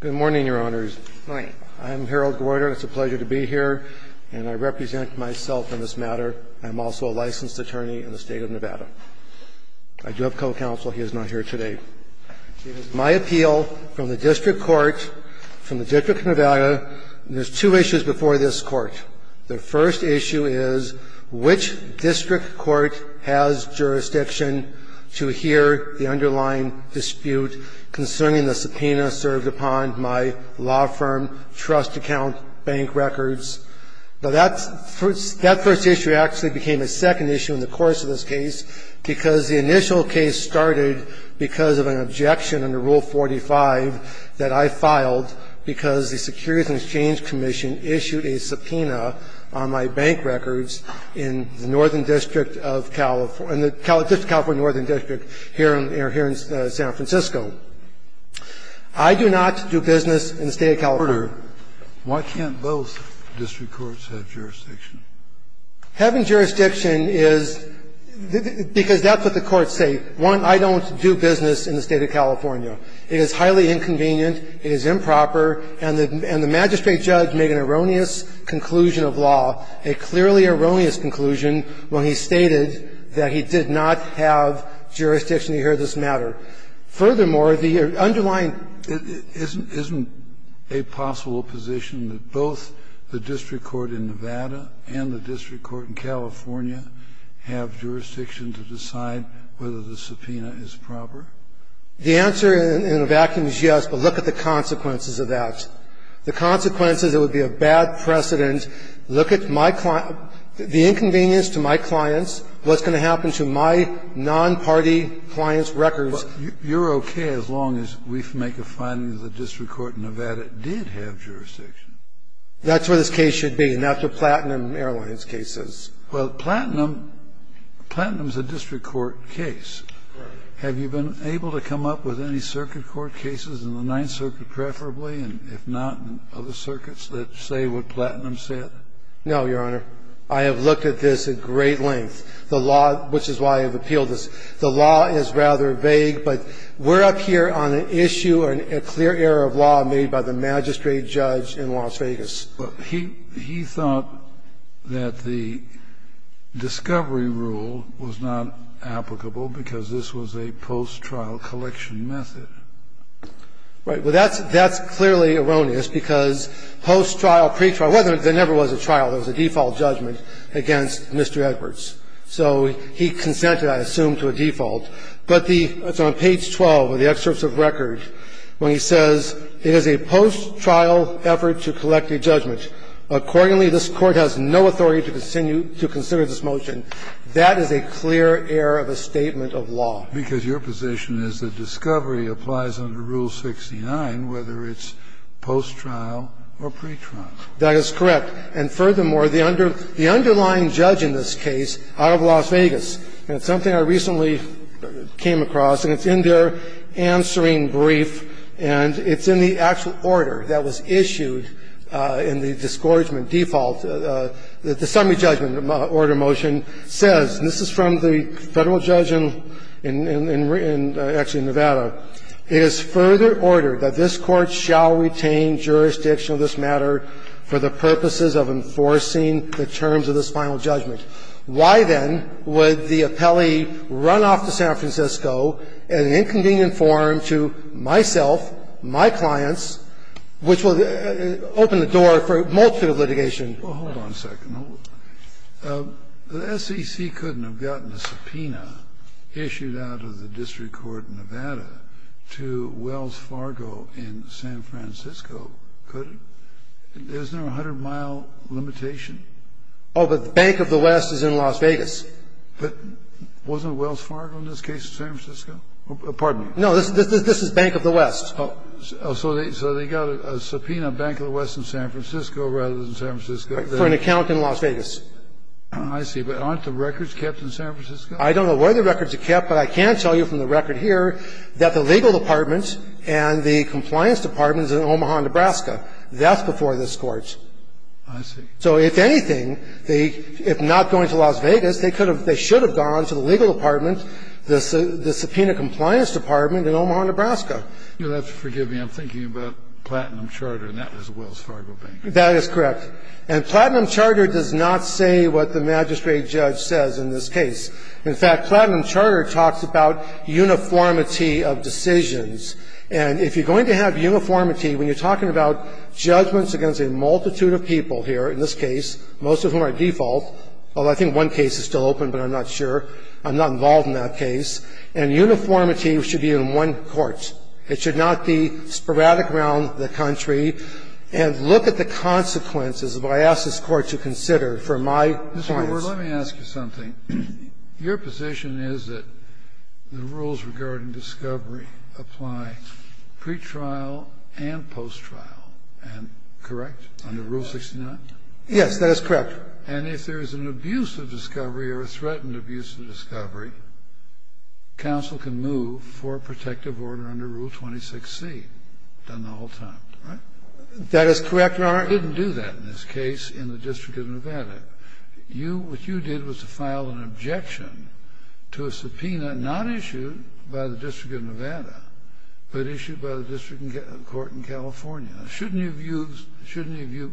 Good morning, Your Honors. I'm Harold Gewerter. It's a pleasure to be here, and I represent myself in this matter. I'm also a licensed attorney in the State of Nevada. I do have co-counsel. He is not here today. It is my appeal from the district court, from the District of Nevada, and there's two issues before this Court. The first issue is which district court has jurisdiction to hear the underlying dispute concerning the subpoena served upon my law firm, trust account, bank records. But that first issue actually became a second issue in the course of this case, because the initial case started because of an objection under Rule 45 that I filed, because the Securities and Exchange Commission issued a subpoena on my bank records in the Northern District of California, California Northern District here in San Francisco. I do not do business in the State of California. Kennedy, why can't both district courts have jurisdiction? Having jurisdiction is, because that's what the courts say. One, I don't do business in the State of California. It is highly inconvenient, it is improper, and the magistrate judge made an erroneous conclusion of law, a clearly erroneous conclusion, when he stated that he did not have jurisdiction to hear this matter. Furthermore, the underlying ---- Kennedy, isn't it a possible position that both the district court in Nevada and the district court in California have jurisdiction to decide whether the subpoena is proper? The answer in a vacuum is yes, but look at the consequences of that. The consequences, it would be a bad precedent. Look at my client ---- the inconvenience to my clients, what's going to happen to my non-party clients' records. You're okay as long as we make a finding that the district court in Nevada did have jurisdiction. That's where this case should be, not the Platinum Airlines cases. Well, Platinum, Platinum is a district court case. Have you been able to come up with any circuit court cases in the Ninth Circuit preferably, and if not, in other circuits that say what Platinum said? No, Your Honor. I have looked at this at great length. The law ---- which is why I have appealed this. The law is rather vague, but we're up here on an issue, a clear error of law made by the magistrate judge in Las Vegas. He thought that the discovery rule was not applicable because this was a post-trial collection method. Right. Well, that's clearly erroneous, because post-trial, pretrial ---- it never was a trial. It was a default judgment against Mr. Edwards. So he consented, I assume, to a default. But the ---- it's on page 12 of the excerpts of record when he says, It is a post-trial effort to collect a judgment. Accordingly, this Court has no authority to continue to consider this motion. That is a clear error of a statement of law. Because your position is that discovery applies under Rule 69, whether it's post-trial or pretrial. That is correct. And furthermore, the underlying judge in this case out of Las Vegas, and it's something I recently came across, and it's in their answering brief, and it's in the actual order that was issued in the disgorgement default, the summary judgment order motion says, and this is from the Federal judge in, in, in, in, actually, in Nevada, It is further ordered that this Court shall retain jurisdiction of this matter for the purposes of enforcing the terms of this final judgment. Why, then, would the appellee run off to San Francisco in an inconvenient form to myself, my clients, which will open the door for multitude of litigation? Well, hold on a second. The SEC couldn't have gotten a subpoena issued out of the district court in Nevada to Wells Fargo in San Francisco, could it? Isn't there a 100-mile limitation? Oh, but Bank of the West is in Las Vegas. But wasn't Wells Fargo in this case in San Francisco? Pardon me. No, this is Bank of the West. So they got a subpoena, Bank of the West in San Francisco rather than San Francisco. For an account in Las Vegas. I see. But aren't the records kept in San Francisco? I don't know where the records are kept, but I can tell you from the record here that the legal department and the compliance department is in Omaha, Nebraska. That's before this Court. I see. So if anything, they, if not going to Las Vegas, they could have, they should have gone to the legal department, the, the subpoena compliance department in Omaha, Nebraska. You'll have to forgive me. I'm thinking about Platinum Charter, and that was Wells Fargo Bank. That is correct. And Platinum Charter does not say what the magistrate judge says in this case. In fact, Platinum Charter talks about uniformity of decisions. And if you're going to have uniformity, when you're talking about judgments against a multitude of people here, in this case, most of whom are default. Well, I think one case is still open, but I'm not sure. I'm not involved in that case. And uniformity should be in one court. It should not be sporadic around the country. And look at the consequences of what I asked this court to consider for my clients. Mr. Goldberg, let me ask you something. Your position is that the rules regarding discovery apply pre-trial and post-trial. And correct? Under Rule 69? Yes, that is correct. And if there is an abuse of discovery or a threatened abuse of discovery, counsel can move for a protective order under Rule 26C, done the whole time, right? That is correct, Your Honor. You didn't do that in this case in the District of Nevada. You what you did was to file an objection to a subpoena not issued by the District of Nevada, but issued by the District Court in California. Shouldn't you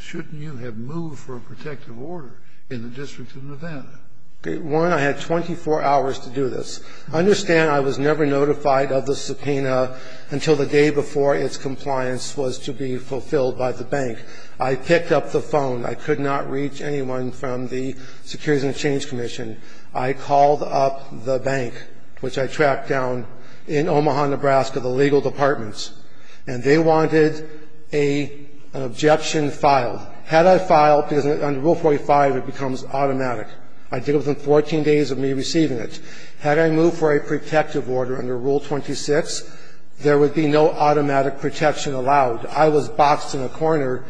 have moved for a protective order in the District of Nevada? One, I had 24 hours to do this. Understand I was never notified of the subpoena until the day before its compliance was to be fulfilled by the bank. I picked up the phone. I could not reach anyone from the Securities and Exchange Commission. I called up the bank, which I tracked down in Omaha, Nebraska, the legal departments. And they wanted an objection filed. Had I filed, because under Rule 45 it becomes automatic. I did it within 14 days of me receiving it. Had I moved for a protective order under Rule 26, there would be no automatic protection allowed. I was boxed in a corner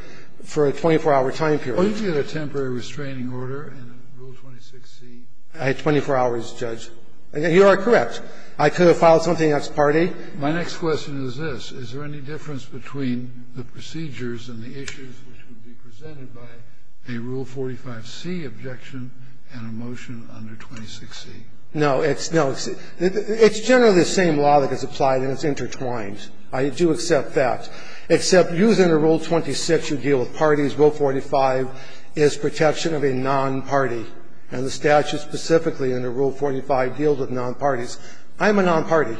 for a 24-hour time period. Oh, you did a temporary restraining order in Rule 26C. I had 24 hours, Judge. You are correct. I could have filed something that's party. My next question is this. Is there any difference between the procedures and the issues which would be presented by a Rule 45C objection and a motion under 26C? No. It's generally the same law that gets applied, and it's intertwined. I do accept that, except using a Rule 26, you deal with parties. Rule 45 is protection of a non-party. And the statute specifically under Rule 45 deals with non-parties. I'm a non-party.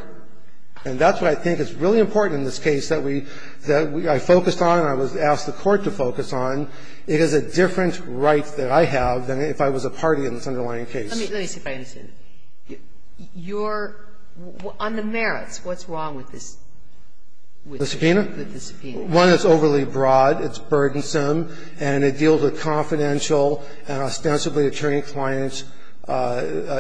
And that's what I think is really important in this case that we – that I focused on and I was asked the Court to focus on. It is a different right that I have than if I was a party in this underlying case. Let me see if I understand. Your – on the merits, what's wrong with this? The subpoena? With the subpoena. One, it's overly broad, it's burdensome, and it deals with confidential and ostensibly attorney-client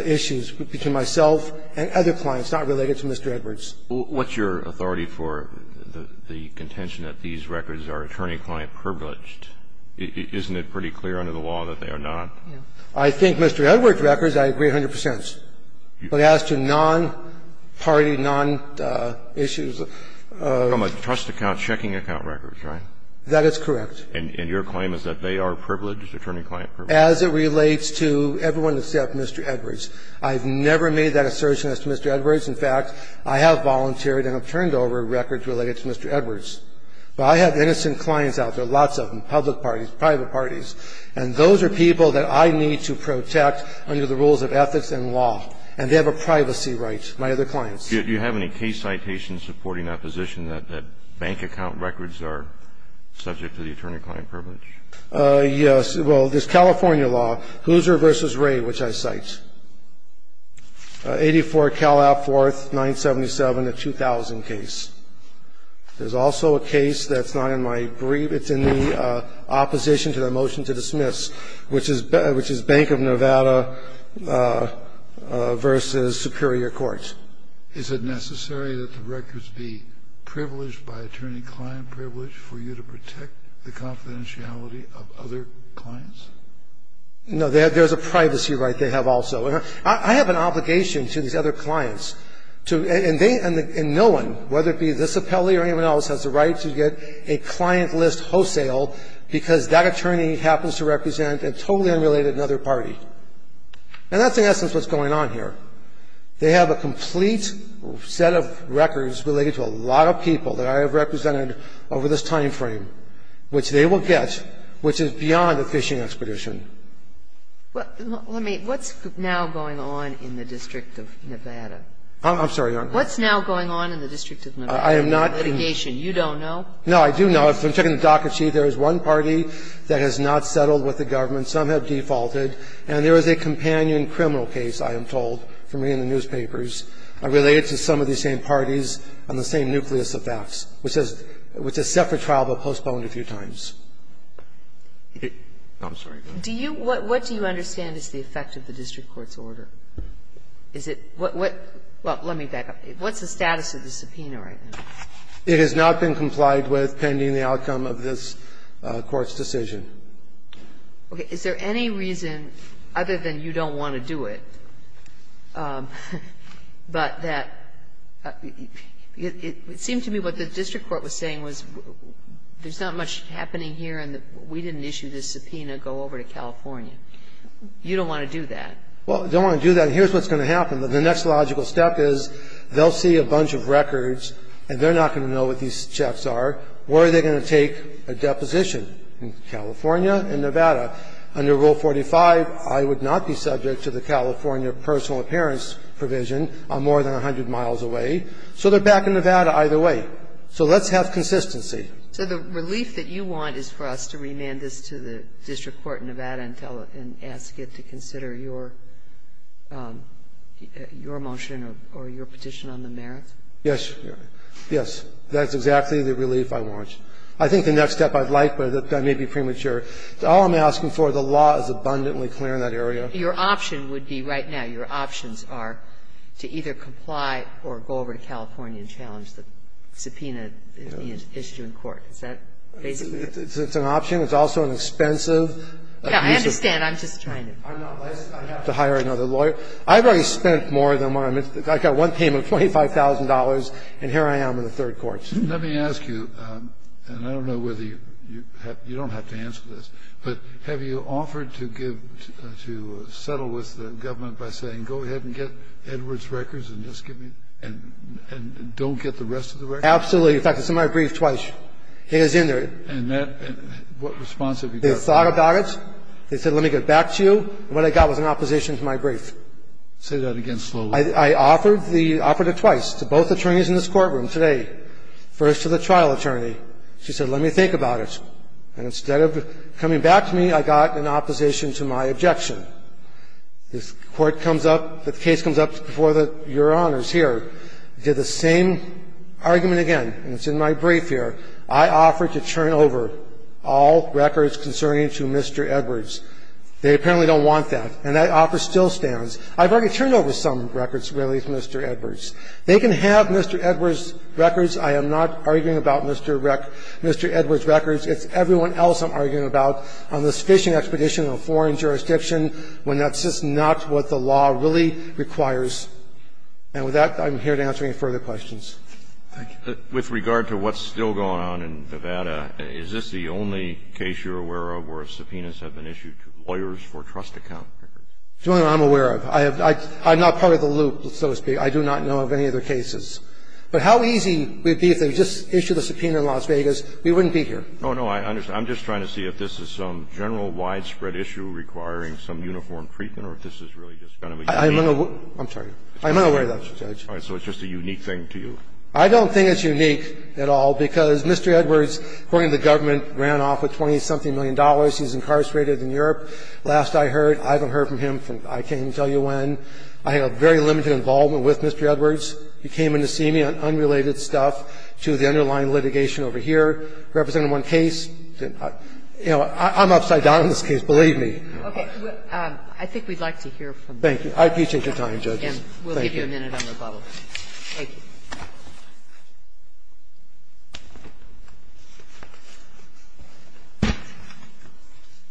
issues between myself and other clients, not related to Mr. Edwards. What's your authority for the contention that these records are attorney-client privileged? Isn't it pretty clear under the law that they are not? I think Mr. Edwards' records, I agree 100 percent. But as to non-party, non-issues of – From a trust account, checking account records, right? That is correct. And your claim is that they are privileged, attorney-client privileged? As it relates to everyone except Mr. Edwards. I've never made that assertion as to Mr. Edwards. In fact, I have volunteered and have turned over records related to Mr. Edwards. But I have innocent clients out there, lots of them, public parties, private parties, and those are people that I need to protect under the rules of ethics and law. And they have a privacy right, my other clients. Do you have any case citations supporting that position, that bank account records are subject to the attorney-client privilege? Yes. Well, there's California law, Hoosier v. Ray, which I cite. 84 Calab Fourth, 977, a 2000 case. There's also a case that's not in my brief. It's in the opposition to the motion to dismiss, which is Bank of Nevada v. Superior Court. Is it necessary that the records be privileged by attorney-client privilege for you to protect the confidentiality of other clients? No. There's a privacy right. I have an obligation to these other clients, and no one, whether it be this appellee or anyone else, has the right to get a client list wholesale because that attorney happens to represent a totally unrelated another party. And that's, in essence, what's going on here. They have a complete set of records related to a lot of people that I have represented over this time frame, which they will get, which is beyond a fishing expedition. Well, let me ask, what's now going on in the District of Nevada? I'm sorry, Your Honor. What's now going on in the District of Nevada? I am not going to go into litigation. You don't know? No, I do know. If I'm checking the docket sheet, there is one party that has not settled with the government. Some have defaulted. And there is a companion criminal case, I am told, for me in the newspapers related to some of these same parties on the same nucleus of thefts, which is set for trial but postponed a few times. I'm sorry. Do you – what do you understand is the effect of the district court's order? Is it – what – well, let me back up. What's the status of the subpoena right now? It has not been complied with pending the outcome of this Court's decision. Okay. Is there any reason, other than you don't want to do it, but that – it seemed to me what the district court was saying was there's not much happening here and that we didn't issue this subpoena, go over to California. You don't want to do that? Well, they don't want to do that. And here's what's going to happen. The next logical step is they'll see a bunch of records and they're not going to know what these checks are. Where are they going to take a deposition? In California, in Nevada. Under Rule 45, I would not be subject to the California personal appearance provision. I'm more than 100 miles away. So they're back in Nevada either way. So let's have consistency. So the relief that you want is for us to remand this to the district court in Nevada and tell it – and ask it to consider your motion or your petition on the merits? Yes. Yes. That's exactly the relief I want. I think the next step I'd like, but that may be premature. All I'm asking for, the law is abundantly clear in that area. Your option would be right now, your options are to either comply or go over to California and challenge the subpoena issue in court. Is that basically it? It's an option. It's also an expensive piece of – I understand. I'm just trying to – I know. I have to hire another lawyer. I've already spent more than what I'm – I got one payment of $25,000, and here I am in the third court. Let me ask you, and I don't know whether you – you don't have to answer this, but have you offered to give – to settle with the government by saying, go ahead and get Edwards' records and just give me – and don't get the rest of the records? Absolutely. In fact, it's in my brief twice. It is in there. And that – what response have you got? They thought about it. They said, let me get back to you. What I got was an opposition to my brief. Say that again slowly. I offered the – offered it twice to both attorneys in this courtroom today, first to the trial attorney. She said, let me think about it. And instead of coming back to me, I got an opposition to my objection. This Court comes up – the case comes up before the – Your Honors here. Did the same argument again, and it's in my brief here. I offered to turn over all records concerning to Mr. Edwards. They apparently don't want that, and that offer still stands. I've already turned over some records, really, to Mr. Edwards. They can have Mr. Edwards' records. I am not arguing about Mr. – Mr. Edwards' records. It's everyone else I'm arguing about on this fishing expedition in a foreign jurisdiction. When that's just not what the law really requires. And with that, I'm here to answer any further questions. Thank you. With regard to what's still going on in Nevada, is this the only case you're aware of where subpoenas have been issued to lawyers for trust account records? It's the only one I'm aware of. I have – I'm not part of the loop, so to speak. I do not know of any other cases. But how easy it would be if they just issued a subpoena in Las Vegas, we wouldn't be here. Oh, no, I understand. I'm just trying to see if this is some general widespread issue requiring some uniform treatment or if this is really just kind of a unique – I'm sorry. I'm not aware of that, Judge. So it's just a unique thing to you? I don't think it's unique at all, because Mr. Edwards, according to the government, ran off with $20-something million. He's incarcerated in Europe. Last I heard – I haven't heard from him since I can't even tell you when. I have very limited involvement with Mr. Edwards. He came in to see me on unrelated stuff to the underlying litigation over here. He represented one case. You know, I'm upside down in this case, believe me. Okay. I think we'd like to hear from you. Thank you. I appreciate your time, Judges. Thank you. We'll give you a minute on rebuttal. Thank you.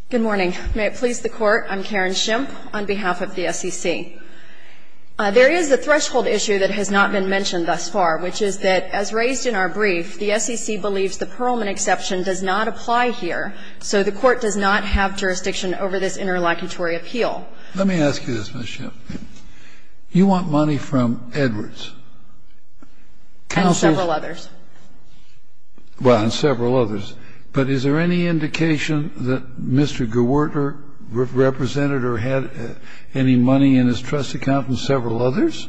Good morning. May it please the Court. I'm Karen Schimpf on behalf of the SEC. There is a threshold issue that has not been mentioned thus far, which is that, as raised in our brief, the SEC believes the Perlman exception does not apply here, so the Court does not have jurisdiction over this interlocutory appeal. Let me ask you this, Ms. Schimpf. You want money from Edwards. And several others. Well, and several others. But is there any indication that Mr. Gewertner represented or had any money in his trust account from several others?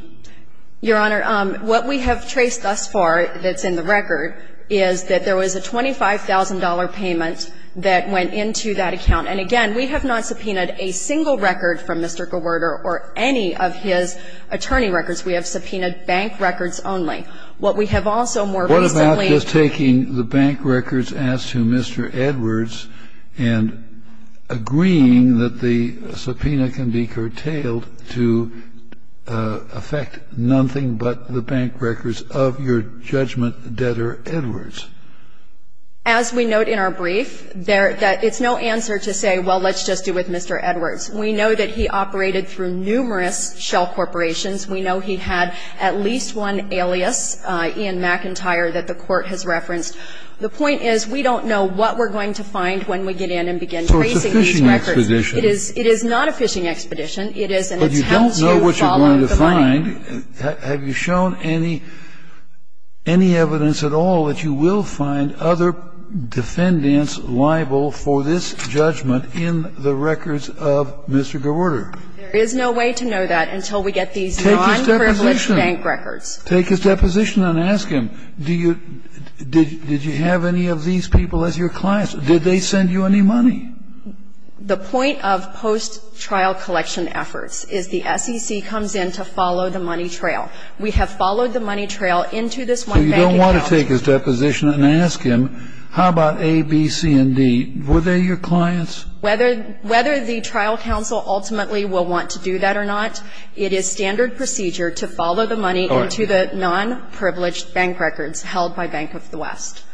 Your Honor, what we have traced thus far that's in the record is that there was a $25,000 payment that went into that account. And again, we have not subpoenaed a single record from Mr. Gewertner or any of his attorney records. We have subpoenaed bank records only. What we have also more recently What about just taking the bank records as to Mr. Edwards and agreeing that the subpoena can be curtailed to affect nothing but the bank records of your judgment debtor, Edwards? As we note in our brief, it's no answer to say, well, let's just do with Mr. Edwards. We know that he operated through numerous shell corporations. We know he had at least one alias, Ian McIntyre, that the Court has referenced. The point is we don't know what we're going to find when we get in and begin tracing these records. It is not a phishing expedition. It is an attempt to follow the money. But you don't know what you're going to find. Have you shown any evidence at all that you will find other defendants liable for this judgment in the records of Mr. Gewertner? There is no way to know that until we get these non-privileged bank records. Take his deposition and ask him. Did you have any of these people as your clients? Did they send you any money? The point of post-trial collection efforts is the SEC comes in to follow the money trail. We have followed the money trail into this one bank account. So you don't want to take his deposition and ask him, how about A, B, C, and D? Were they your clients? Whether the trial counsel ultimately will want to do that or not, it is standard procedure to follow the money into the non-privileged bank records held by Bank of the West.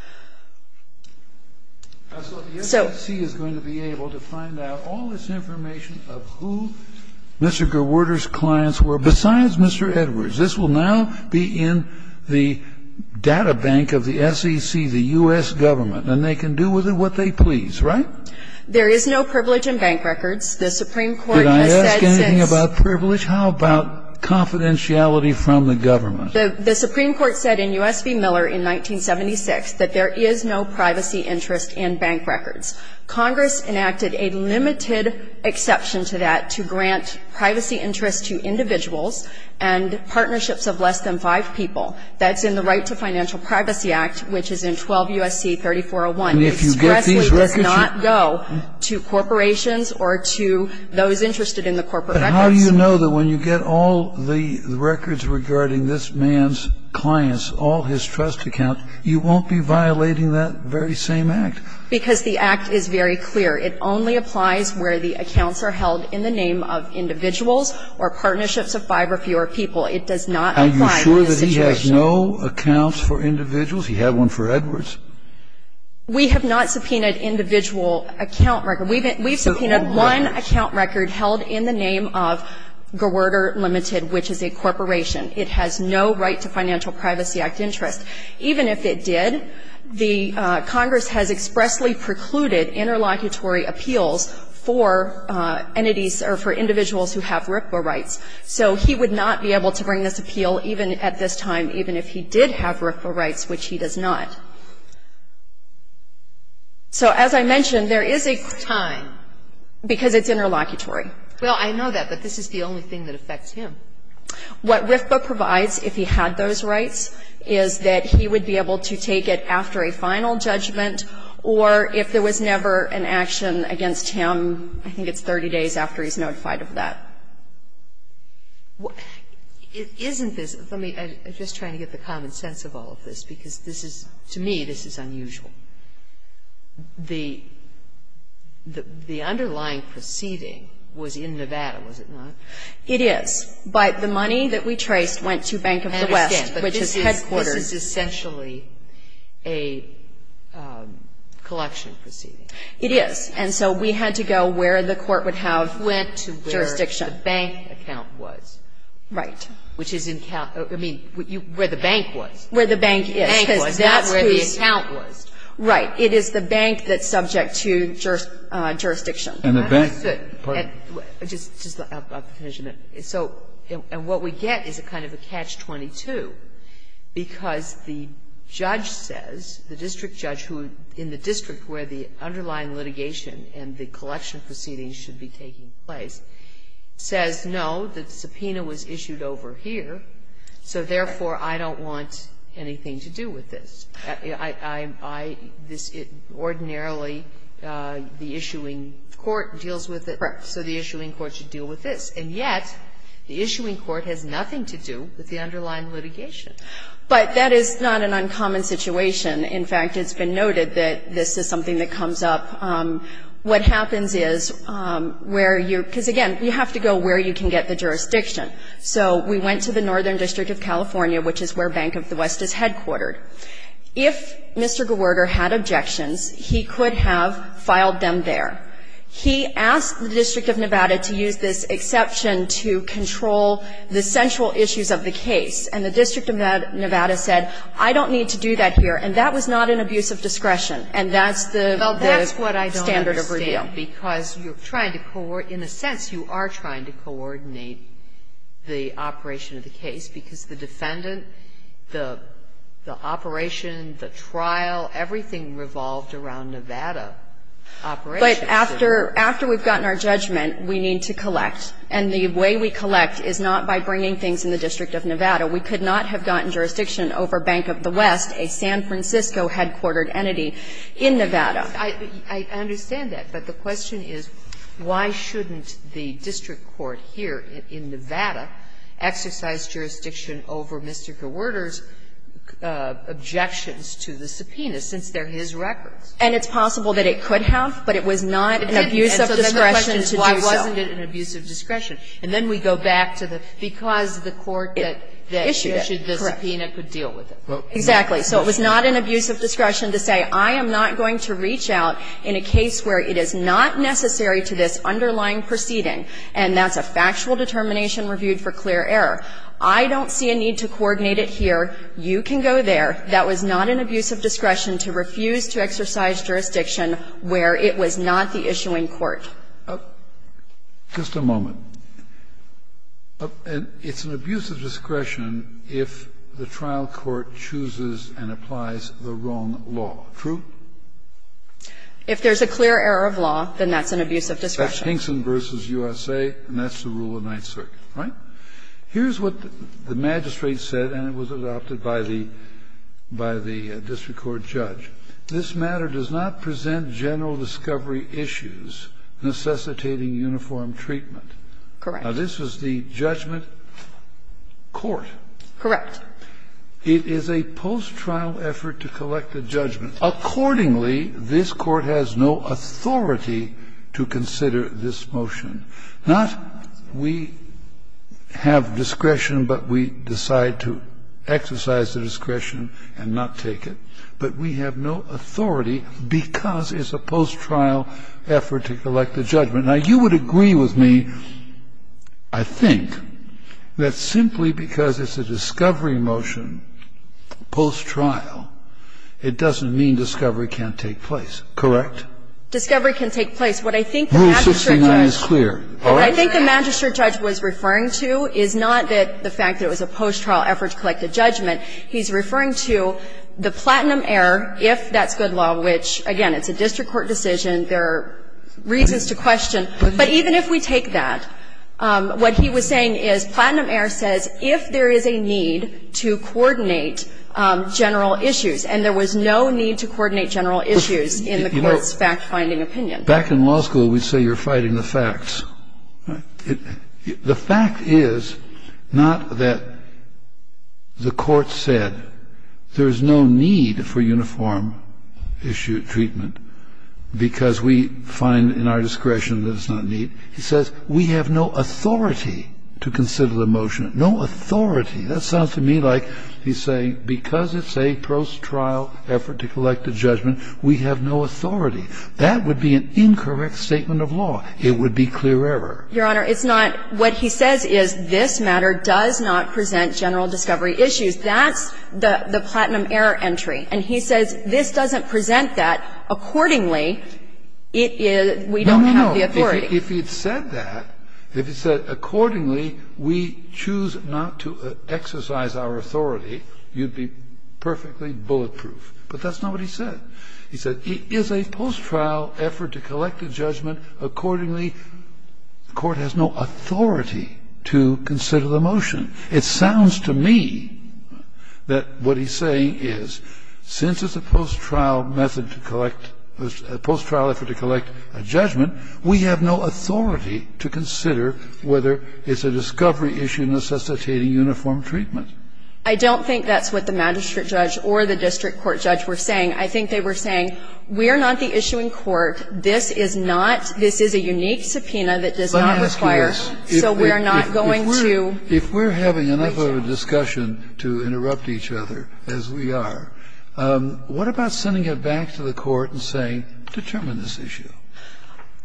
So the SEC is going to be able to find out all this information of who Mr. Gewertner's clients were, besides Mr. Edwards. This will now be in the data bank of the SEC, the U.S. Government, and they can do with it what they please, right? There is no privilege in bank records. The Supreme Court has said since Did I ask anything about privilege? How about confidentiality from the government? The Supreme Court said in U.S. v. Miller in 1976 that there is no privacy interest in bank records. Congress enacted a limited exception to that to grant privacy interest to individuals and partnerships of less than five people. That's in the Right to Financial Privacy Act, which is in 12 U.S.C. 3401. And if you get these records, you And it expressly does not go to corporations or to those interested in the corporate records. But how do you know that when you get all the records regarding this man's clients, all his trust accounts, you won't be violating that very same act? Because the act is very clear. It only applies where the accounts are held in the name of individuals or partnerships of five or fewer people. It does not apply in this situation. Are you sure that he has no accounts for individuals? He had one for Edwards. We have not subpoenaed individual account records. We've subpoenaed one account record held in the name of Gerwerter Limited, which is a corporation. It has no Right to Financial Privacy Act interest. Even if it did, the Congress has expressly precluded interlocutory appeals for entities or for individuals who have RIPPA rights. So he would not be able to bring this appeal even at this time, even if he did have RIPPA rights, which he does not. So as I mentioned, there is a time. Because it's interlocutory. Well, I know that, but this is the only thing that affects him. What RIPPA provides, if he had those rights, is that he would be able to take it after a final judgment, or if there was never an action against him, I think it's 30 days after he's notified of that. Isn't this the mean of the common sense of all of this? Because this is, to me, this is unusual. The underlying proceeding was in Nevada, was it not? It is. But the money that we traced went to Bank of the West, which is headquarters. I understand, but this is essentially a collection proceeding. It is. And so we had to go where the court would have jurisdiction. It went to where the bank account was. Right. Which is in, I mean, where the bank was. Where the bank is, because that's who's the bank that's subject to jurisdiction. And what we get is a kind of a catch-22, because the judge says, the district judge who, in the district where the underlying litigation and the collection proceedings should be taking place, says, no, the subpoena was issued over here, so therefore, I don't want anything to do with this. I, this, ordinarily, the issuing court deals with it. Correct. So the issuing court should deal with this. And yet, the issuing court has nothing to do with the underlying litigation. But that is not an uncommon situation. In fact, it's been noted that this is something that comes up. What happens is where you're, because again, you have to go where you can get the jurisdiction. So we went to the Northern District of California, which is where Bank of the West is headquartered. If Mr. Gewerter had objections, he could have filed them there. He asked the District of Nevada to use this exception to control the central issues of the case. And the District of Nevada said, I don't need to do that here. And that was not an abuse of discretion. And that's the standard of review. Well, that's what I don't understand, because you're trying to coordinate, in a sense you are trying to coordinate the operation of the case, because the defendant, the operation, the trial, everything revolved around Nevada operations. But after we've gotten our judgment, we need to collect. And the way we collect is not by bringing things in the District of Nevada. We could not have gotten jurisdiction over Bank of the West, a San Francisco headquartered entity in Nevada. I understand that, but the question is, why shouldn't the district court here in Nevada exercise jurisdiction over Mr. Gewerter's objections to the subpoena, since they're his records? And it's possible that it could have, but it was not an abuse of discretion to do so. And so the question is, why wasn't it an abuse of discretion? And then we go back to the, because the court that issued the subpoena could deal with it. Exactly. So it was not an abuse of discretion to say, I am not going to reach out in a case where it is not necessary to this underlying proceeding, and that's a factual determination reviewed for clear error. I don't see a need to coordinate it here. You can go there. That was not an abuse of discretion to refuse to exercise jurisdiction where it was not the issuing court. Just a moment. It's an abuse of discretion if the trial court chooses and applies the wrong law. True? If there's a clear error of law, then that's an abuse of discretion. That's Hinkson v. USA, and that's the rule of Ninth Circuit. Right? Here's what the magistrate said, and it was adopted by the district court judge. This matter does not present general discovery issues necessitating uniform treatment. Correct. Now, this was the judgment court. Correct. It is a post-trial effort to collect a judgment. Accordingly, this Court has no authority to consider this motion. Not we have discretion, but we decide to exercise the discretion and not take it, but we have no authority because it's a post-trial effort to collect a judgment. Now, you would agree with me, I think, that simply because it's a discovery motion post-trial, it doesn't mean discovery can't take place. Correct? Discovery can take place. What I think the magistrate judge was referring to is not that the fact that it was a post-trial effort to collect a judgment. He's referring to the platinum error, if that's good law, which, again, it's a district court decision. There are reasons to question. But even if we take that, what he was saying is platinum error says if there is a need to coordinate general issues, and there was no need to coordinate general issues in the court's fact-finding opinion. Back in law school, we'd say you're fighting the facts. The fact is not that the court said there's no need for uniform issue treatment because we find in our discretion that it's not need. He says we have no authority to consider the motion, no authority. That sounds to me like he's saying because it's a post-trial effort to collect a judgment, we have no authority. That would be an incorrect statement of law. It would be clear error. Your Honor, it's not. What he says is this matter does not present general discovery issues. That's the platinum error entry. And he says this doesn't present that. Accordingly, it is we don't have the authority. No, no, no. If he had said that, if he said accordingly, we choose not to exercise our authority, you'd be perfectly bulletproof. But that's not what he said. He said it is a post-trial effort to collect a judgment. Accordingly, the court has no authority to consider the motion. It sounds to me that what he's saying is since it's a post-trial method to collect the post-trial effort to collect a judgment, we have no authority to consider whether it's a discovery issue necessitating uniform treatment. I don't think that's what the magistrate judge or the district court judge were saying. I think they were saying we are not the issue in court, this is not, this is a unique subpoena that does not require. So we are not going to. Kennedy, if we're having enough of a discussion to interrupt each other, as we are, what about sending it back to the court and saying, determine this issue?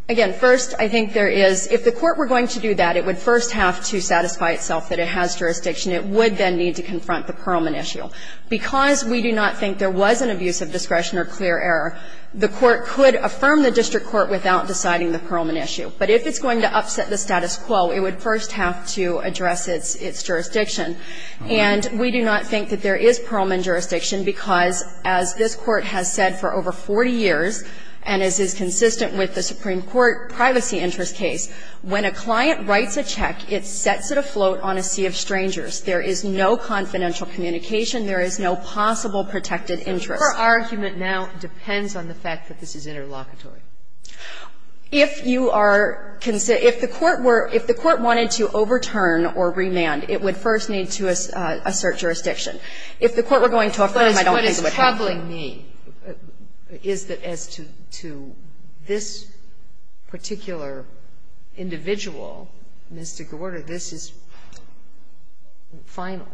Again, first, I think there is, if the court were going to do that, it would first have to satisfy itself that it has jurisdiction. It would then need to confront the Pearlman issue. Because we do not think there was an abuse of discretion or clear error, the court could affirm the district court without deciding the Pearlman issue. But if it's going to upset the status quo, it would first have to address its jurisdiction. And we do not think that there is Pearlman jurisdiction because, as this Court has said for over 40 years, and as is consistent with the Supreme Court privacy interest case, when a client writes a check, it sets it afloat on a sea of strangers. There is no confidential communication. There is no possible protected interest. Kagan. Kagan. So her argument now depends on the fact that this is interlocutory. If you are concerned, if the court were, if the court wanted to overturn or remand, it would first need to assert jurisdiction. If the court were going to affirm, I don't think it would happen. But what is troubling me is that as to this particular individual, Ms. de Gorda, this is final.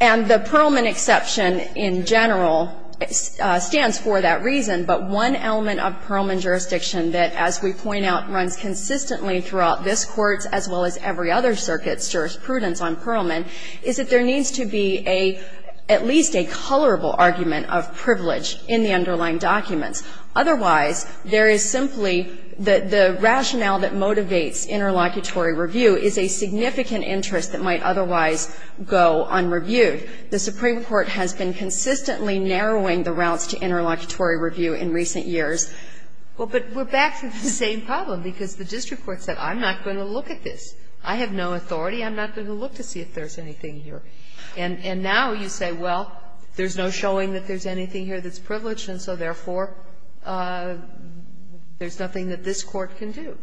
And the Pearlman exception in general stands for that reason. But one element of Pearlman jurisdiction that, as we point out, runs consistently throughout this Court, as well as every other circuit's jurisprudence on Pearlman, is that there needs to be at least a colorable argument of privilege in the underlying documents. Otherwise, there is simply the rationale that motivates interlocutory review is a significant interest that might otherwise go unreviewed. The Supreme Court has been consistently narrowing the routes to interlocutory review in recent years. Well, but we're back to the same problem, because the district court said, I'm not going to look at this. I have no authority. I'm not going to look to see if there's anything here. And now you say, well, there's no showing that there's anything here that's privileged, and so therefore, there's nothing that this Court can do.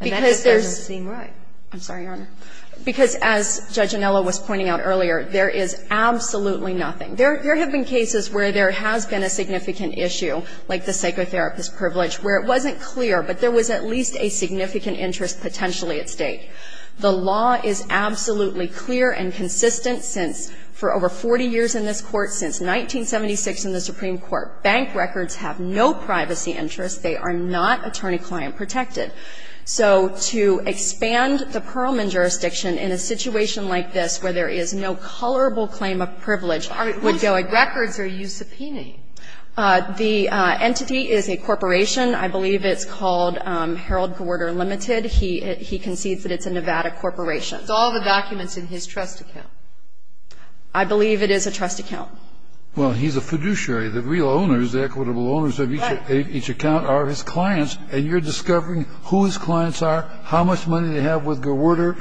And that just doesn't seem right. I'm sorry, Your Honor. Because as Judge Anello was pointing out earlier, there is absolutely nothing. There have been cases where there has been a significant issue, like the psychotherapist privilege, where it wasn't clear, but there was at least a significant interest potentially at stake. The law is absolutely clear and consistent since, for over 40 years in this Court, since 1976 in the Supreme Court. Bank records have no privacy interest. They are not attorney-client protected. So to expand the Perlman jurisdiction in a situation like this, where there is no colorable claim of privilege, would go against the law. Records are you subpoenaing? The entity is a corporation. I believe it's called Harold Gorder Limited. He concedes that it's a Nevada corporation. It's all the documents in his trust account. I believe it is a trust account. Well, he's a fiduciary. The real owners, the equitable owners of each account are his clients, and you're discovering who his clients are, how much money they have with Gorder.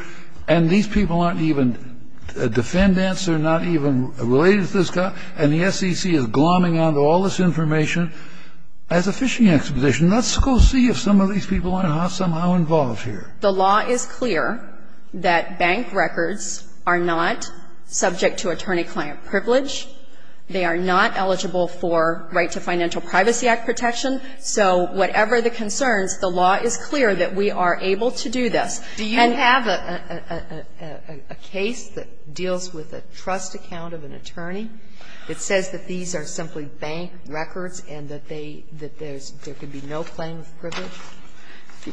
And these people aren't even defendants. They're not even related to this guy. And the SEC is glomming onto all this information as a fishing exposition. Let's go see if some of these people are somehow involved here. The law is clear that bank records are not subject to attorney-client privilege. They are not eligible for Right to Financial Privacy Act protection. So whatever the concerns, the law is clear that we are able to do this. And have a case that deals with a trust account of an attorney that says that these are simply bank records and that they – that there's – there could be no claim of privilege?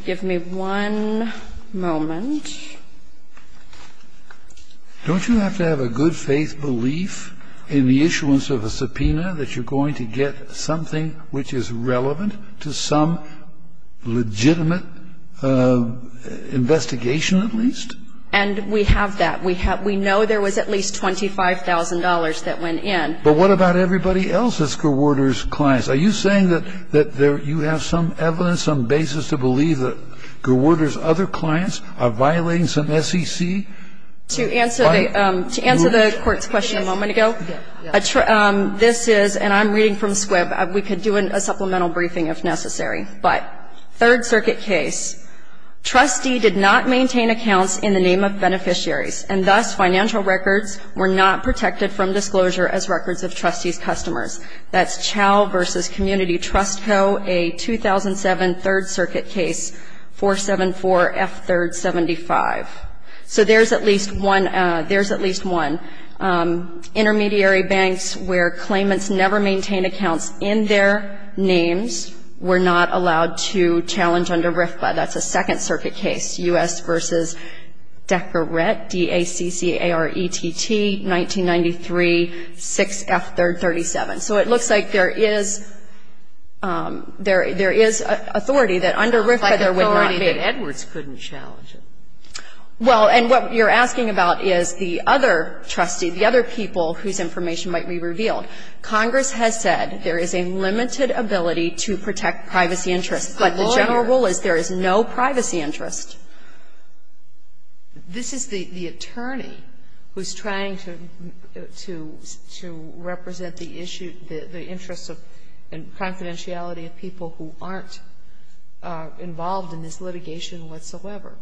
Give me one moment. Don't you have to have a good-faith belief in the issuance of a subpoena that you're relevant to some legitimate investigation, at least? And we have that. We know there was at least $25,000 that went in. But what about everybody else that's Gorder's clients? Are you saying that you have some evidence, some basis to believe that Gorder's other clients are violating some SEC? To answer the court's question a moment ago, this is – and I'm reading from the final briefing if necessary – but third circuit case, trustee did not maintain accounts in the name of beneficiaries, and thus financial records were not protected from disclosure as records of trustee's customers. That's Chow v. Community Trust Co., a 2007 third circuit case, 474F375. So there's at least one – there's at least one. Intermediary banks where claimants never maintain accounts in their names were not allowed to challenge under RFPA. That's a second circuit case, U.S. v. Decorette, D-A-C-C-A-R-E-T-T, 1993, 6F337. So it looks like there is – there is authority that under RFPA there would not be. It looks like authority that Edwards couldn't challenge it. Well, and what you're asking about is the other trustee, the other people whose information might be revealed. Congress has said there is a limited ability to protect privacy interests. But the general rule is there is no privacy interest. This is the attorney who's trying to represent the issue, the interests of and confidentiality of people who aren't involved in this litigation whatsoever.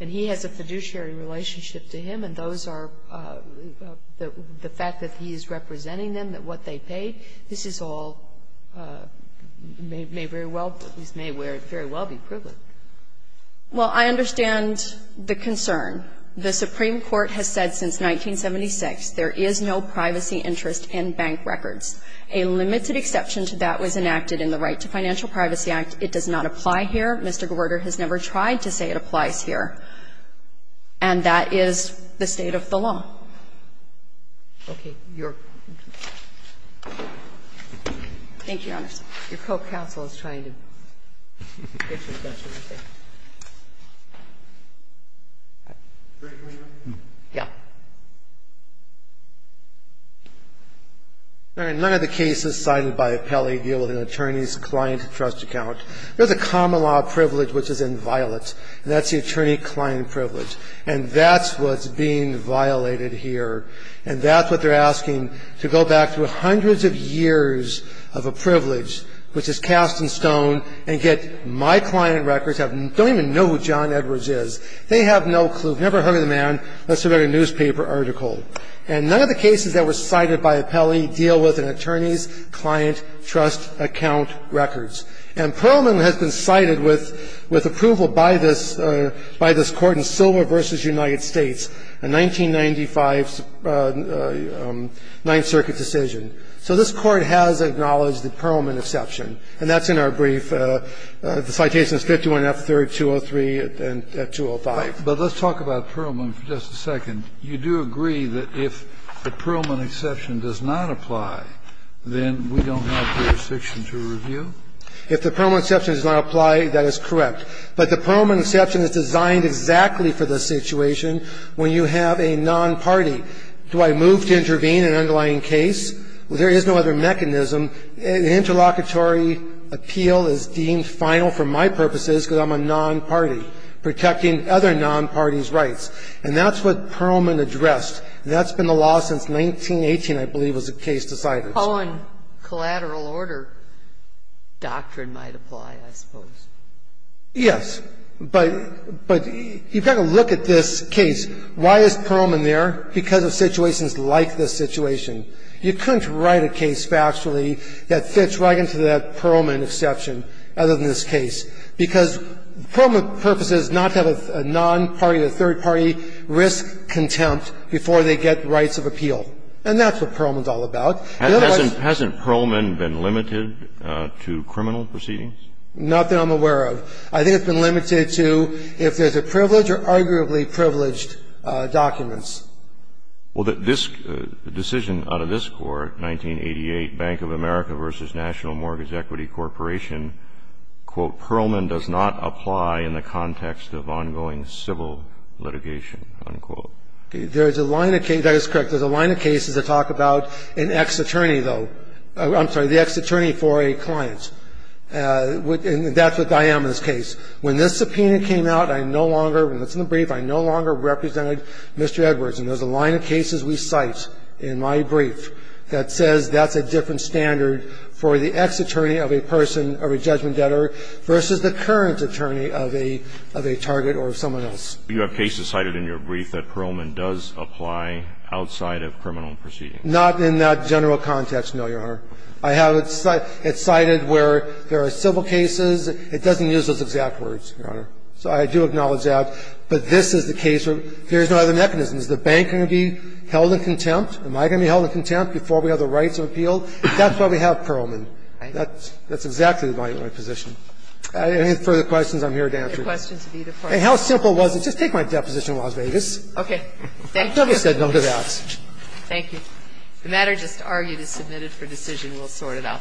And he has a fiduciary relationship to him, and those are – the fact that he is representing them, what they paid, this is all – may very well – this may very well be privileged. Well, I understand the concern. The Supreme Court has said since 1976 there is no privacy interest in bank records. A limited exception to that was enacted in the Right to Financial Privacy Act. It does not apply here. Mr. Gorder has never tried to say it applies here. And that is the state of the law. Okay. Your – thank you, Your Honor. Your co-counsel is trying to get some questions. Yeah. All right. None of the cases cited by the appellee deal with an attorney's client trust account. There's a common law privilege which is inviolate, and that's the attorney-client privilege. And that's what's being violated here, and that's what they're asking, to go back through hundreds of years of a privilege which is cast in stone and get my client records, don't even know who John Edwards is. They have no clue, never heard of the man, let alone a newspaper article. And none of the cases that were cited by appellee deal with an attorney's client trust account records. And Pearlman has been cited with approval by this court in Silver v. United States, a 1995 Ninth Circuit decision. So this Court has acknowledged the Pearlman exception. And that's in our brief. The citation is 51 F. 3rd, 203 and 205. But let's talk about Pearlman for just a second. You do agree that if the Pearlman exception does not apply, then we don't have jurisdiction to review? If the Pearlman exception does not apply, that is correct. But the Pearlman exception is designed exactly for the situation when you have a non-party. Do I move to intervene in an underlying case? There is no other mechanism. Interlocutory appeal is deemed final for my purposes because I'm a non-party, protecting other non-parties' rights. And that's what Pearlman addressed. And that's been the law since 1918, I believe, was the case decided. The Cohen collateral order doctrine might apply, I suppose. Yes. But you've got to look at this case. Why is Pearlman there? Because of situations like this situation. You couldn't write a case factually that fits right into that Pearlman exception other than this case, because the Pearlman purpose is not to have a non-party or third party risk contempt before they get rights of appeal. And that's what Pearlman's all about. Hasn't Pearlman been limited to criminal proceedings? Not that I'm aware of. I think it's been limited to if there's a privilege or arguably privileged documents. Well, this decision out of this Court, 1988, Bank of America v. National Mortgage Equity Corporation, quote, Pearlman does not apply in the context of ongoing civil litigation, unquote. There's a line of cases. That is correct. There's a line of cases that talk about an ex-attorney, though. I'm sorry, the ex-attorney for a client. And that's what I am in this case. When this subpoena came out, I no longer, when it's in the brief, I no longer represented Mr. Edwards. And there's a line of cases we cite in my brief that says that's a different standard for the ex-attorney of a person, of a judgment debtor, versus the current attorney of a target or someone else. You have cases cited in your brief that Pearlman does apply outside of criminal proceedings. Not in that general context, no, Your Honor. I have it cited where there are civil cases. It doesn't use those exact words, Your Honor. So I do acknowledge that. But this is the case where there's no other mechanism. Is the bank going to be held in contempt? Am I going to be held in contempt before we have the rights of appeal? That's why we have Pearlman. That's exactly my position. Any further questions, I'm here to answer. And how simple was it? Just take my deposition in Las Vegas. I've never said no to that. Thank you. The matter just argued is submitted for decision. We'll sort it out.